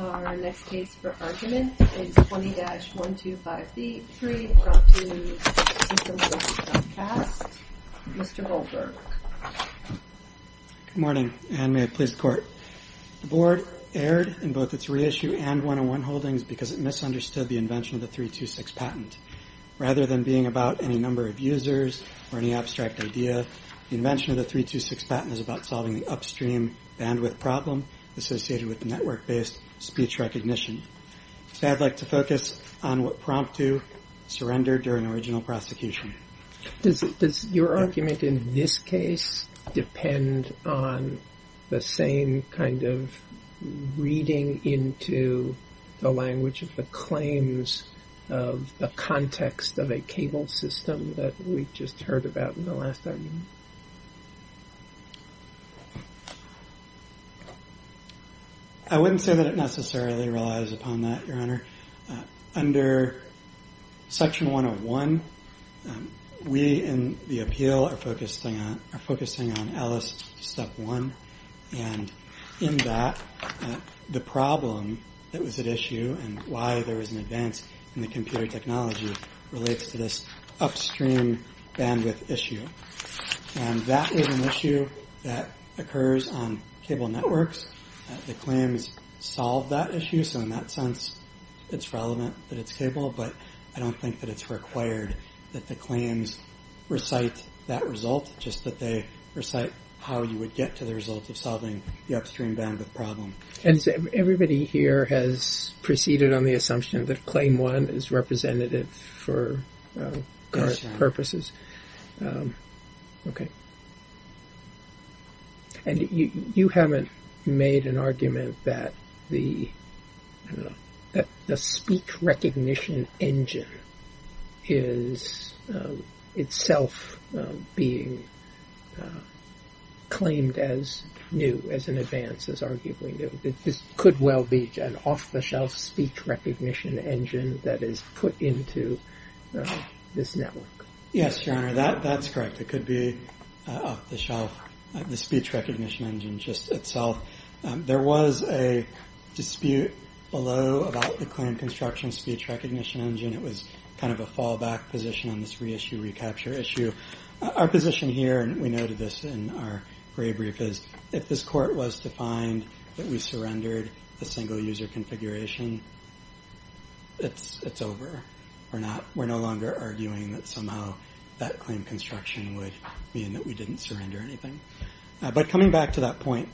Our next case for argument is 20-125B3, brought to you from Comcast. Mr. Holberg. Good morning, and may it please the Court. The Board erred in both its reissue and 101 holdings because it misunderstood the invention of the 326 patent. Rather than being about any number of users or any abstract idea, the invention of the 326 patent is about solving the upstream bandwidth problem associated with network-based speech recognition. So I'd like to focus on what prompt to surrender during original prosecution. Does your argument in this case depend on the same kind of reading into the language of the claims of the context of a cable system that we just heard about in the last argument? I wouldn't say that it necessarily relies upon that, Your Honor. Under Section 101, we in the appeal are focusing on ELLIS Step 1. And in that, the problem that was at issue and why there was an advance in the computer technology relates to this upstream bandwidth issue. And that is an issue that occurs on cable networks. The claims solve that issue, so in that sense, it's relevant that it's cable. But I don't think that it's required that the claims recite that result, just that they recite how you would get to the result of solving the upstream bandwidth problem. And everybody here has proceeded on the assumption that Claim 1 is representative for current purposes. And you haven't made an argument that the speech recognition engine is itself being claimed as new, as an advance, as arguably new. This could well be an off-the-shelf speech recognition engine that is put into this network. Yes, Your Honor, that's correct. It could be off-the-shelf, the speech recognition engine just itself. There was a dispute below about the claim construction speech recognition engine. It was kind of a fallback position on this reissue-recapture issue. Our position here, and we noted this in our brief, is if this court was to find that we surrendered a single-user configuration, it's over. We're no longer arguing that somehow that claim construction would mean that we didn't surrender anything. But coming back to that point,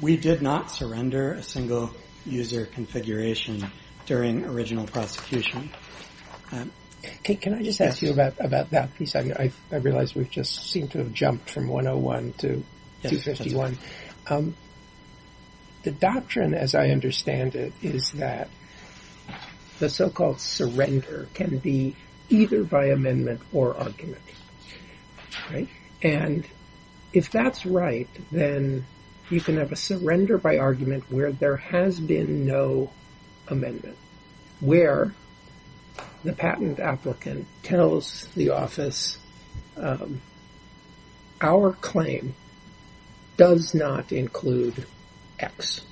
we did not surrender a single-user configuration during original prosecution. Can I just ask you about that piece? I realize we've just seemed to have jumped from 101 to 251. The doctrine, as I understand it, is that the so-called surrender can be either by amendment or argument. If that's right, then you can have a surrender by argument where there has been no amendment, where the patent applicant tells the office, Our claim does not include X,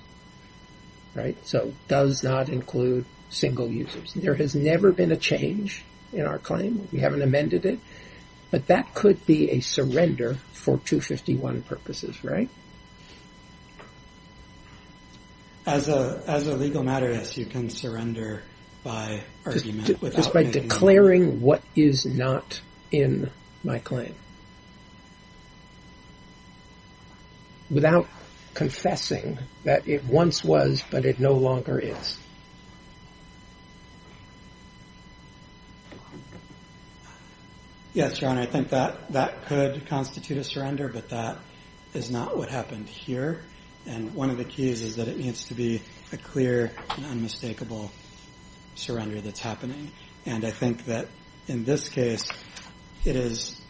so does not include single users. There has never been a change in our claim. We haven't amended it, but that could be a surrender for 251 purposes, right? As a legal matter, yes, you can surrender by argument. Just by declaring what is not in my claim, without confessing that it once was, but it no longer is. Yes, Your Honor, I think that could constitute a surrender, but that is not what happened here. And one of the keys is that it needs to be a clear and unmistakable surrender that's happening. And I think that in this case, it is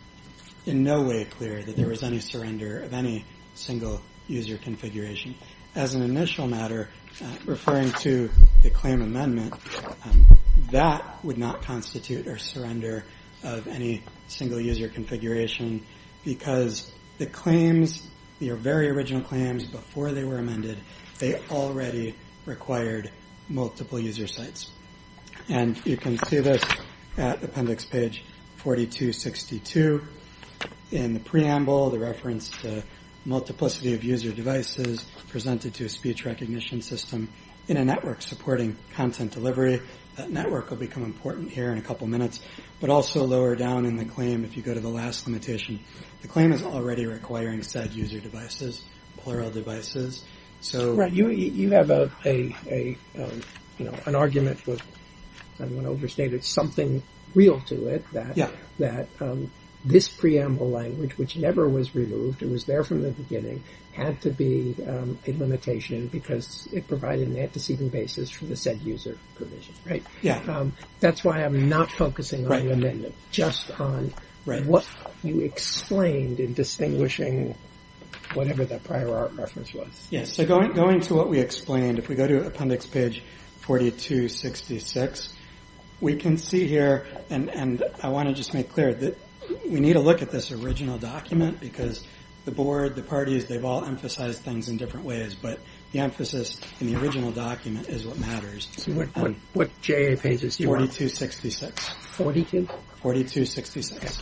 in no way clear that there was any surrender of any single-user configuration. As an initial matter, referring to the claim amendment, that would not constitute a surrender of any single-user configuration, because the claims, your very original claims before they were amended, they already required multiple user sites. And you can see this at appendix page 4262 in the preamble, the reference to multiplicity of user devices presented to a speech recognition system in a network supporting content delivery. That network will become important here in a couple minutes. But also lower down in the claim, if you go to the last limitation, the claim is already requiring said user devices, plural devices. You have an argument with, I want to overstate it, something real to it, that this preamble language, which never was removed, it was there from the beginning, had to be a limitation because it provided an antecedent basis for the said user provision. That's why I'm not focusing on the amendment, just on what you explained in distinguishing whatever that prior art reference was. Yes, so going to what we explained, if we go to appendix page 4266, we can see here, and I want to just make clear that we need to look at this original document, because the board, the parties, they've all emphasized things in different ways, but the emphasis in the original document is what matters. So what JA pages do you want? 4266. 42? 4266.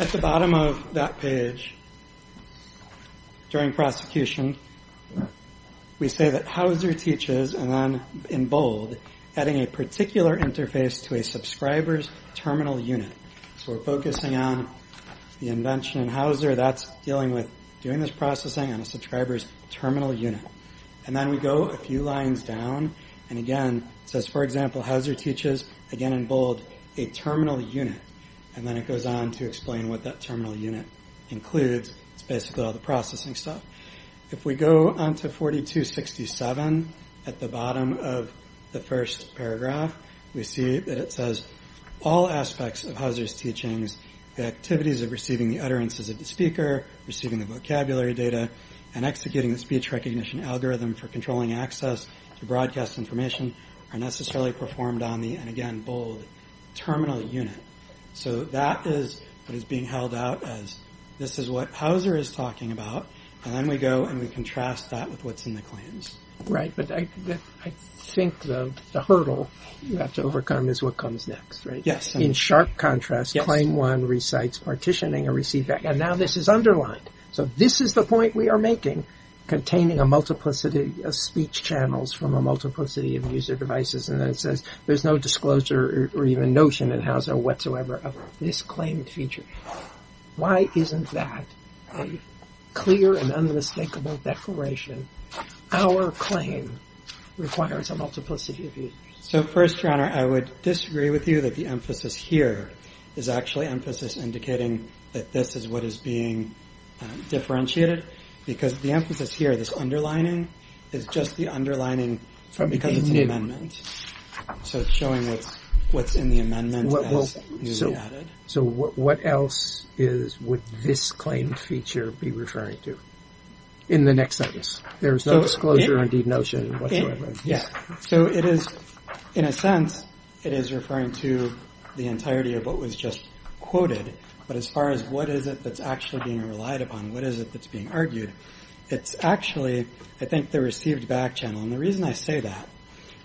At the bottom of that page, during prosecution, we say that Hauser teaches, and then in bold, adding a particular interface to a subscriber's terminal unit. So we're focusing on the invention in Hauser, that's dealing with doing this processing on a subscriber's terminal unit. And then we go a few lines down, and again, it says, for example, Hauser teaches, again in bold, a terminal unit, and then it goes on to explain what that terminal unit includes. It's basically all the processing stuff. If we go on to 4267, at the bottom of the first paragraph, we see that it says, all aspects of Hauser's teachings, the activities of receiving the utterances of the speaker, receiving the vocabulary data, and executing the speech recognition algorithm for controlling access to broadcast information, are necessarily performed on the, and again, bold, terminal unit. So that is what is being held out as, this is what Hauser is talking about, and then we go and we contrast that with what's in the claims. Right, but I think the hurdle you have to overcome is what comes next, right? Yes. In sharp contrast, claim one recites partitioning a receiver. And now this is underlined, so this is the point we are making, containing a multiplicity of speech channels from a multiplicity of user devices, and then it says, there's no disclosure or even notion in Hauser whatsoever of this claimed feature. Why isn't that a clear and unmistakable declaration? Our claim requires a multiplicity of users. So first, your honor, I would disagree with you that the emphasis here is actually emphasis indicating that this is what is being differentiated, because the emphasis here, this underlining, is just the underlining because it's an amendment. So it's showing what's in the amendment as newly added. So what else is, would this claimed feature be referring to in the next sentence? There is no disclosure or indeed notion whatsoever. So it is, in a sense, it is referring to the entirety of what was just quoted. But as far as what is it that's actually being relied upon, what is it that's being argued? It's actually, I think, the received back channel. And the reason I say that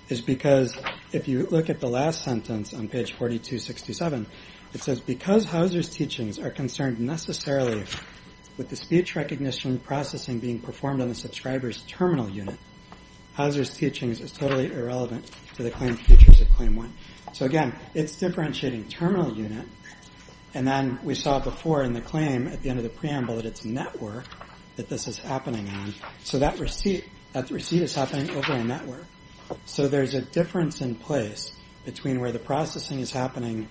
is because if you look at the last sentence on page 4267, it says because Hauser's teachings are concerned necessarily with the speech recognition processing being performed on the subscriber's terminal unit. Hauser's teachings is totally irrelevant to the claimed features of Claim 1. So again, it's differentiating terminal unit. And then we saw before in the claim at the end of the preamble that it's network that this is happening on. So that receipt is happening over a network. So there's a difference in place between where the processing is happening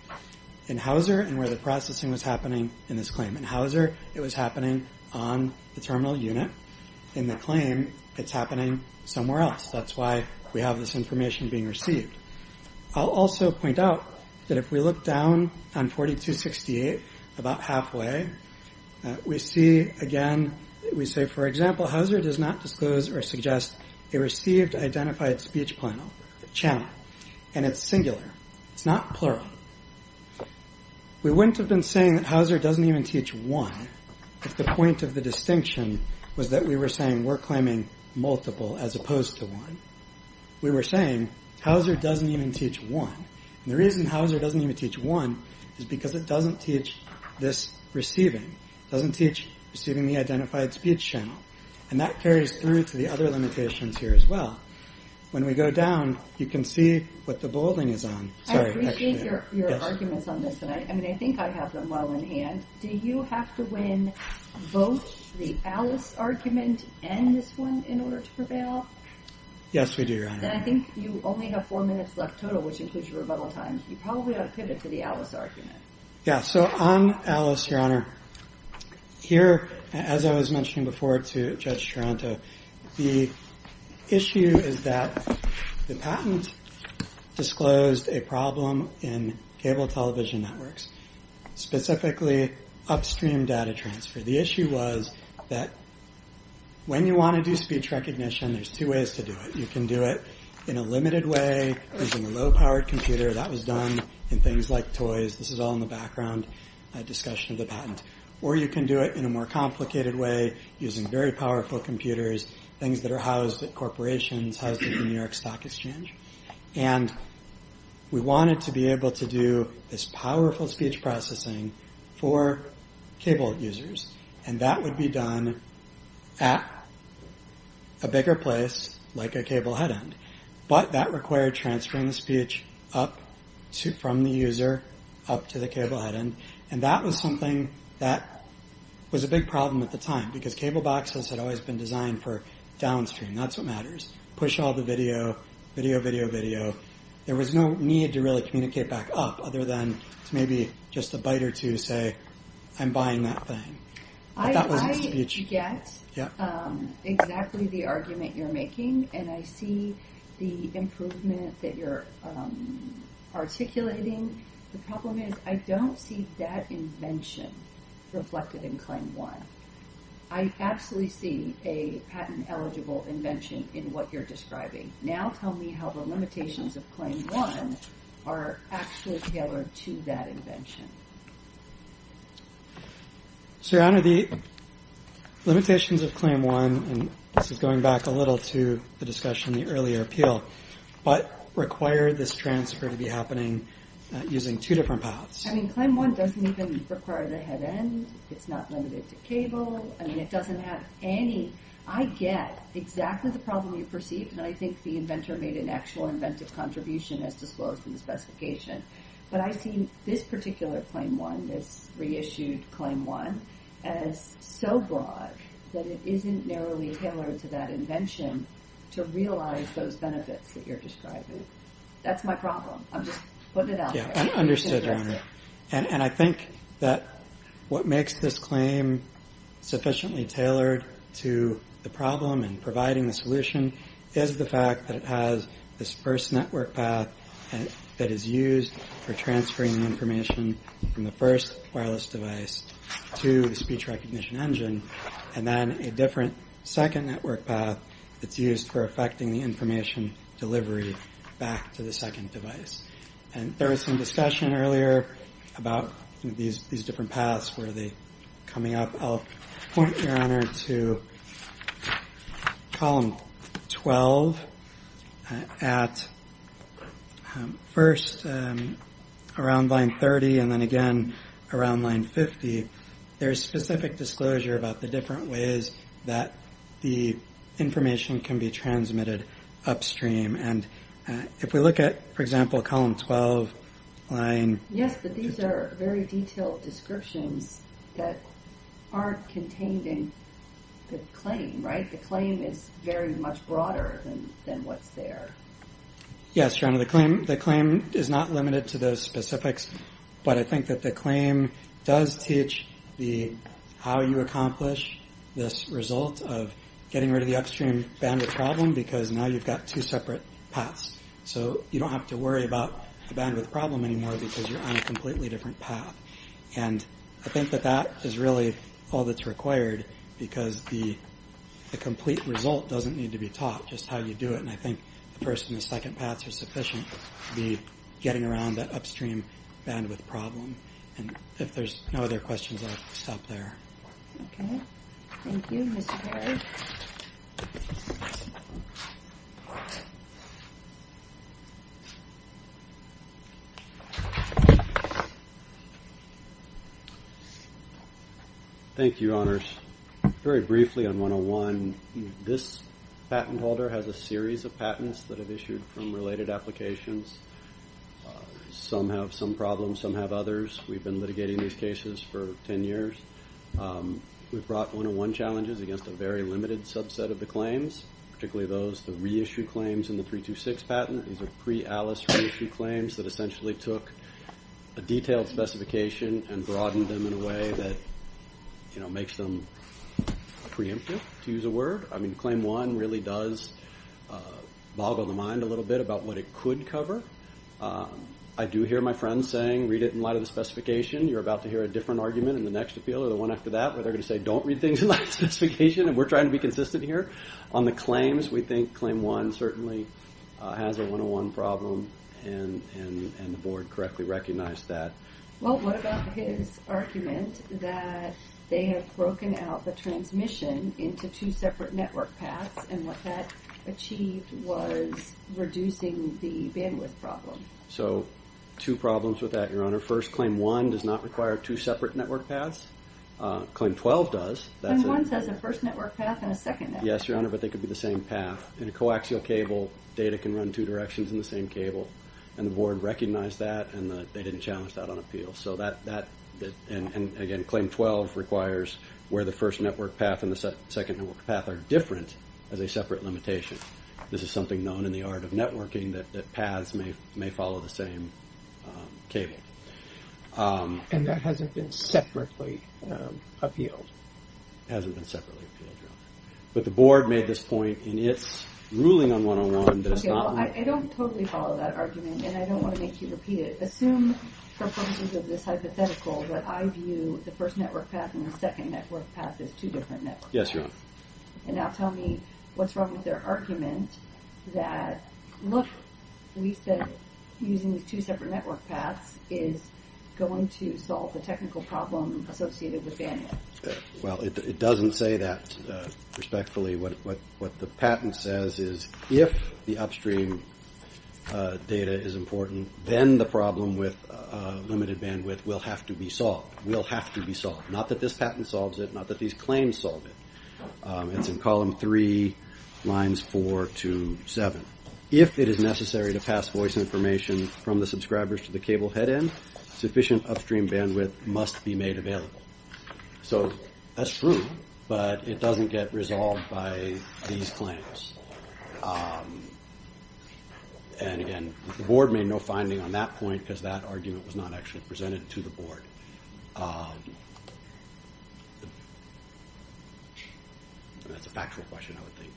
in Hauser and where the processing was happening in this claim. In Hauser, it was happening on the terminal unit. In the claim, it's happening somewhere else. That's why we have this information being received. I'll also point out that if we look down on 4268, about halfway, we see, again, we say, for example, Hauser does not disclose or suggest a received identified speech channel. And it's singular. It's not plural. We wouldn't have been saying that Hauser doesn't even teach 1 if the point of the distinction was that we were saying we're claiming multiple as opposed to 1. We were saying Hauser doesn't even teach 1. And the reason Hauser doesn't even teach 1 is because it doesn't teach this receiving. It doesn't teach receiving the identified speech channel. And that carries through to the other limitations here as well. When we go down, you can see what the bolding is on. I appreciate your arguments on this, and I think I have them well in hand. Do you have to win both the Alice argument and this one in order to prevail? Yes, we do, Your Honor. Then I think you only have four minutes left total, which includes your rebuttal time. You probably ought to pivot to the Alice argument. Yeah, so on Alice, Your Honor, here, as I was mentioning before to Judge Taranto, the issue is that the patent disclosed a problem in cable television networks, specifically upstream data transfer. The issue was that when you want to do speech recognition, there's two ways to do it. You can do it in a limited way using a low-powered computer. That was done in things like toys. This is all in the background discussion of the patent. Or you can do it in a more complicated way using very powerful computers, things that are housed at corporations, housed at the New York Stock Exchange. And we wanted to be able to do this powerful speech processing for cable users. And that would be done at a bigger place, like a cable head end. But that required transferring the speech from the user up to the cable head end. And that was something that was a big problem at the time, because cable boxes had always been designed for downstream. That's what matters. Push all the video, video, video, video. There was no need to really communicate back up, other than to maybe just a bite or two say, I'm buying that thing. I get exactly the argument you're making, and I see the improvement that you're articulating. The problem is I don't see that invention reflected in Claim 1. I actually see a patent-eligible invention in what you're describing. Now tell me how the limitations of Claim 1 are actually tailored to that invention. Sir, Your Honor, the limitations of Claim 1, and this is going back a little to the discussion in the earlier appeal, but require this transfer to be happening using two different paths. I mean, Claim 1 doesn't even require the head end. It's not limited to cable. I mean, it doesn't have any. I get exactly the problem you perceive, and I think the inventor made an actual inventive contribution as disclosed in the specification. But I see this particular Claim 1, this reissued Claim 1, as so broad that it isn't narrowly tailored to that invention to realize those benefits that you're describing. That's my problem. I'm just putting it out there. I understand, Your Honor. And I think that what makes this claim sufficiently tailored to the problem and providing the solution is the fact that it has this first network path that is used for transferring information from the first wireless device to the speech recognition engine, and then a different second network path that's used for effecting the information delivery back to the second device. And there was some discussion earlier about these different paths where they're coming up. I'll point, Your Honor, to Column 12. At first, around Line 30, and then again around Line 50, there's specific disclosure about the different ways that the information can be transmitted upstream. And if we look at, for example, Column 12. Yes, but these are very detailed descriptions that aren't contained in the claim, right? The claim is very much broader than what's there. Yes, Your Honor. The claim is not limited to those specifics, but I think that the claim does teach how you accomplish this result of getting rid of the upstream bandwidth problem because now you've got two separate paths. So you don't have to worry about the bandwidth problem anymore because you're on a completely different path. And I think that that is really all that's required because the complete result doesn't need to be taught, just how you do it. And I think the first and the second paths are sufficient to be getting around that upstream bandwidth problem. And if there's no other questions, I'll stop there. Okay. Thank you, Mr. Perry. Thank you, Your Honors. Very briefly on 101, this patent holder has a series of patents that have issued from related applications. Some have some problems, some have others. We've been litigating these cases for 10 years. We've brought 101 challenges against a very limited subset of the claims, particularly those, the reissue claims in the 326 patent. These are pre-ALICE reissue claims that essentially took a detailed specification and broadened them in a way that makes them preemptive, to use a word. I mean, Claim 1 really does boggle the mind a little bit about what it could cover. I do hear my friends saying, read it in light of the specification. You're about to hear a different argument in the next appeal or the one after that where they're going to say, don't read things in light of the specification. We're trying to be consistent here. On the claims, we think Claim 1 certainly has a 101 problem, and the Board correctly recognized that. Well, what about his argument that they have broken out the transmission into two separate network paths, and what that achieved was reducing the bandwidth problem? So two problems with that, Your Honor. First, Claim 1 does not require two separate network paths. Claim 12 does. Claim 1 says a first network path and a second network path. Yes, Your Honor, but they could be the same path. In a coaxial cable, data can run two directions in the same cable, and the Board recognized that, and they didn't challenge that on appeal. And again, Claim 12 requires where the first network path and the second network path are different as a separate limitation. This is something known in the art of networking that paths may follow the same cable. And that hasn't been separately appealed? It hasn't been separately appealed, Your Honor. But the Board made this point in its ruling on 101 that it's not— Okay, well, I don't totally follow that argument, and I don't want to make you repeat it. Assume for purposes of this hypothetical that I view the first network path and the second network path as two different networks. Yes, Your Honor. And now tell me what's wrong with their argument that, look, we said using these two separate network paths is going to solve the technical problem associated with bandwidth. Well, it doesn't say that respectfully. What the patent says is if the upstream data is important, then the problem with limited bandwidth will have to be solved. Will have to be solved. Not that this patent solves it, not that these claims solve it. It's in column 3, lines 4 to 7. If it is necessary to pass voice information from the subscribers to the cable head end, sufficient upstream bandwidth must be made available. So that's true, but it doesn't get resolved by these claims. And, again, the Board made no finding on that point because that argument was not actually presented to the Board. That's a factual question, I would think.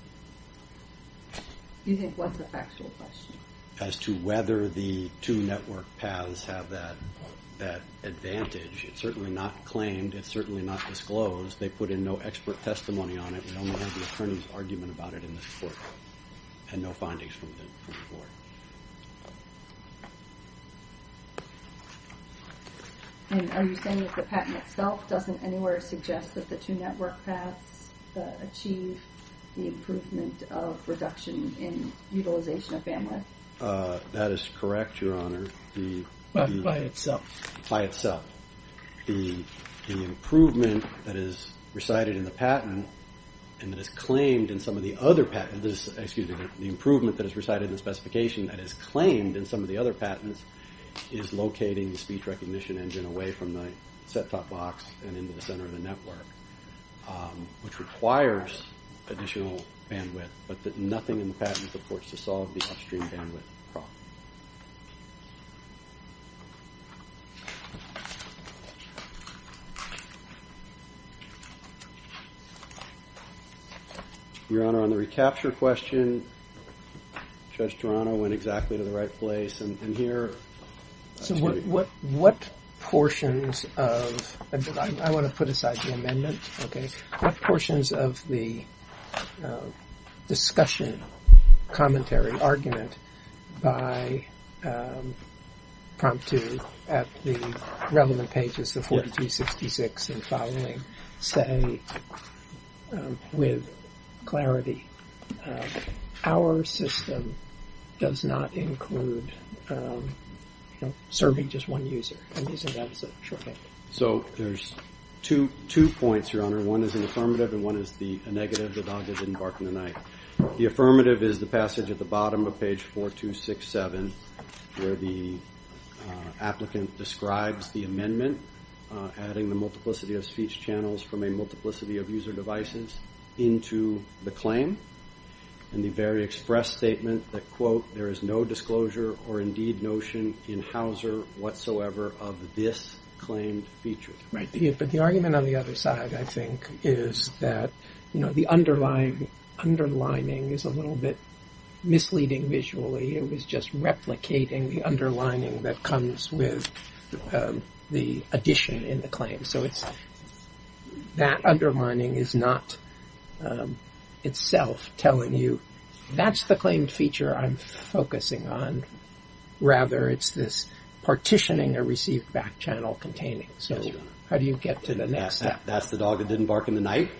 You think what's a factual question? As to whether the two network paths have that advantage. It's certainly not claimed. It's certainly not disclosed. They put in no expert testimony on it. We only have the attorney's argument about it in this court, and no findings from the Board. And are you saying that the patent itself doesn't anywhere suggest that the two network paths achieve the improvement of reduction in utilization of bandwidth? That is correct, Your Honor. By itself? By itself. The improvement that is recited in the patent and that is claimed in some of the other patents, excuse me, the improvement that is recited in the specifications and that is claimed in some of the other patents is locating the speech recognition engine away from the set-top box and into the center of the network, which requires additional bandwidth, but that nothing in the patent supports to solve the upstream bandwidth problem. Your Honor, on the recapture question, Judge Toronto went exactly to the right place. And here... So what portions of... I want to put aside the amendment, okay? What portions of the discussion, commentary, argument by Promptu at the relevant pages, the 42-66 and following, say with clarity, our system does not include serving just one user? So there's two points, Your Honor. One is an affirmative and one is a negative. The dog didn't bark in the night. The affirmative is the passage at the bottom of page 4267 where the applicant describes the amendment, adding the multiplicity of speech channels from a multiplicity of user devices into the claim, and the very express statement that, quote, there is no disclosure or indeed notion in Hauser whatsoever of this claimed feature. But the argument on the other side, I think, is that the underlining is a little bit misleading visually. It was just replicating the underlining that comes with the addition in the claim. So it's... That undermining is not itself telling you, that's the claimed feature I'm focusing on. Rather, it's this partitioning a received back channel containing. So how do you get to the next step? That's the dog that didn't bark in the night.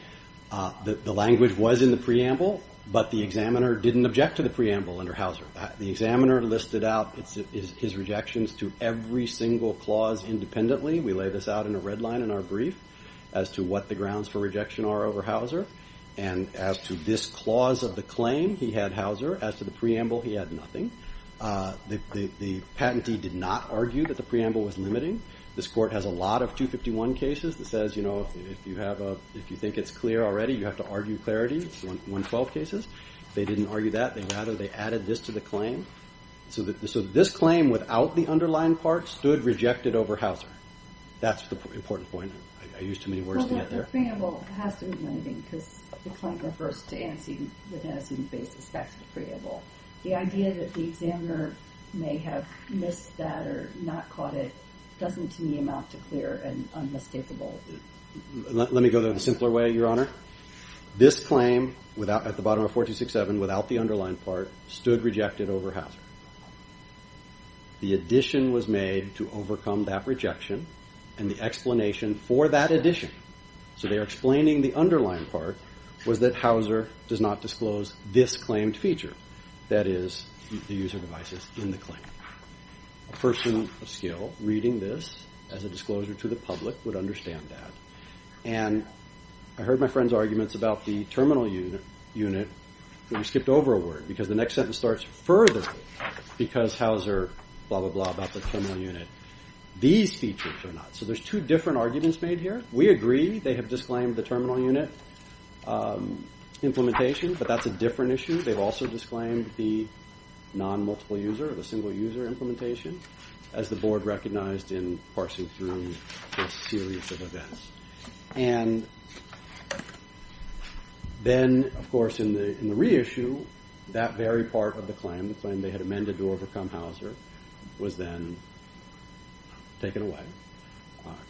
The language was in the preamble, but the examiner didn't object to the preamble under Hauser. The examiner listed out his rejections to every single clause independently. We lay this out in a red line in our brief as to what the grounds for rejection are over Hauser. And as to this clause of the claim, he had Hauser. As to the preamble, he had nothing. The patentee did not argue that the preamble was limiting. This court has a lot of 251 cases that says, you know, if you think it's clear already, you have to argue clarity. It's 112 cases. They didn't argue that. Rather, they added this to the claim. So this claim without the underlying part stood rejected over Hauser. That's the important point. I used too many words to get there. Well, the preamble has to be limiting because the claim refers to the antecedent basis. That's the preamble. The idea that the examiner may have missed that or not caught it doesn't, to me, amount to clear and unmistakable. Let me go there in a simpler way, Your Honor. This claim at the bottom of 4267 without the underlying part stood rejected over Hauser. The addition was made to overcome that rejection and the explanation for that addition, so they are explaining the underlying part, was that Hauser does not disclose this claimed feature, that is, the user devices in the claim. A person of skill reading this as a disclosure to the public would understand that. And I heard my friend's arguments about the terminal unit when we skipped over a word because the next sentence starts further because Hauser blah, blah, blah about the terminal unit. These features are not. So there's two different arguments made here. We agree they have disclaimed the terminal unit implementation, but that's a different issue. They've also disclaimed the non-multiple-user, the single-user implementation, as the Board recognized in parsing through a series of events. And then, of course, in the reissue, that very part of the claim, the claim they had amended to overcome Hauser, was then taken away,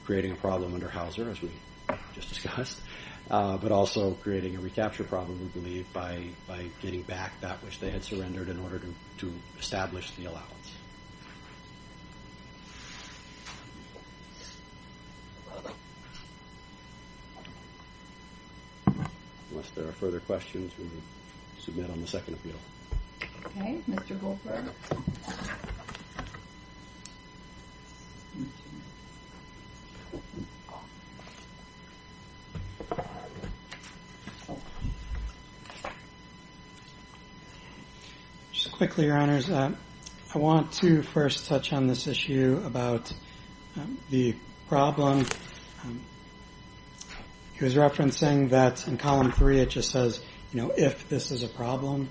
creating a problem under Hauser, as we just discussed, but also creating a recapture problem, we believe, by getting back that which they had surrendered in order to establish the allowance. Unless there are further questions, we will submit on the second appeal. Okay. Mr. Goldberg. Just quickly, Your Honors, I want to first touch on this issue about the problem. He was referencing that in Column 3, it just says, you know, if this is a problem.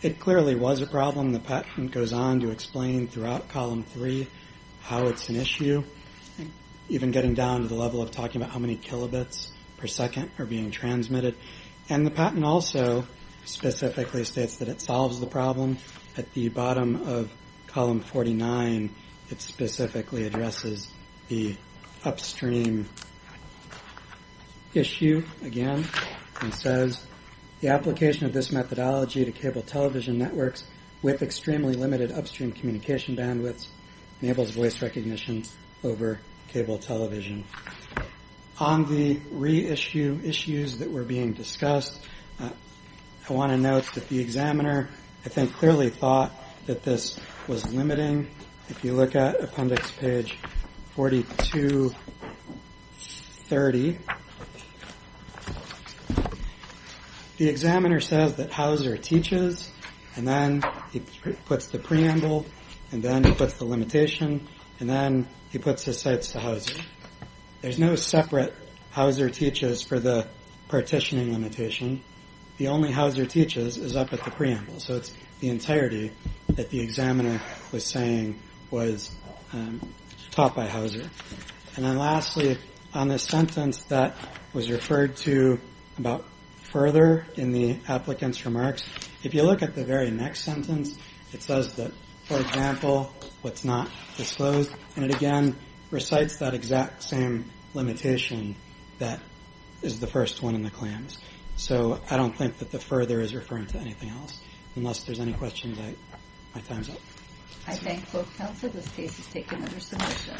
It clearly was a problem. The patent goes on to explain throughout Column 3 how it's an issue, even getting down to the level of talking about how many kilobits per second are being transmitted. And the patent also specifically states that it solves the problem. At the bottom of Column 49, it specifically addresses the upstream issue again, and says, the application of this methodology to cable television networks with extremely limited upstream communication bandwidths enables voice recognition over cable television. On the reissue issues that were being discussed, I want to note that the examiner I think clearly thought that this was limiting. If you look at appendix page 4230, the examiner says that Hauser teaches, and then he puts the preamble, and then he puts the limitation, and then he puts his sights to Hauser. There's no separate Hauser teaches for the partitioning limitation. The only Hauser teaches is up at the preamble, so it's the entirety that the examiner was saying was taught by Hauser. And then lastly, on this sentence that was referred to about further in the applicant's remarks, if you look at the very next sentence, it says that, for example, what's not disclosed, that is the first one in the claims. So I don't think that the further is referring to anything else. Unless there's any questions, my time's up. I thank both counsel. This case is taken under submission.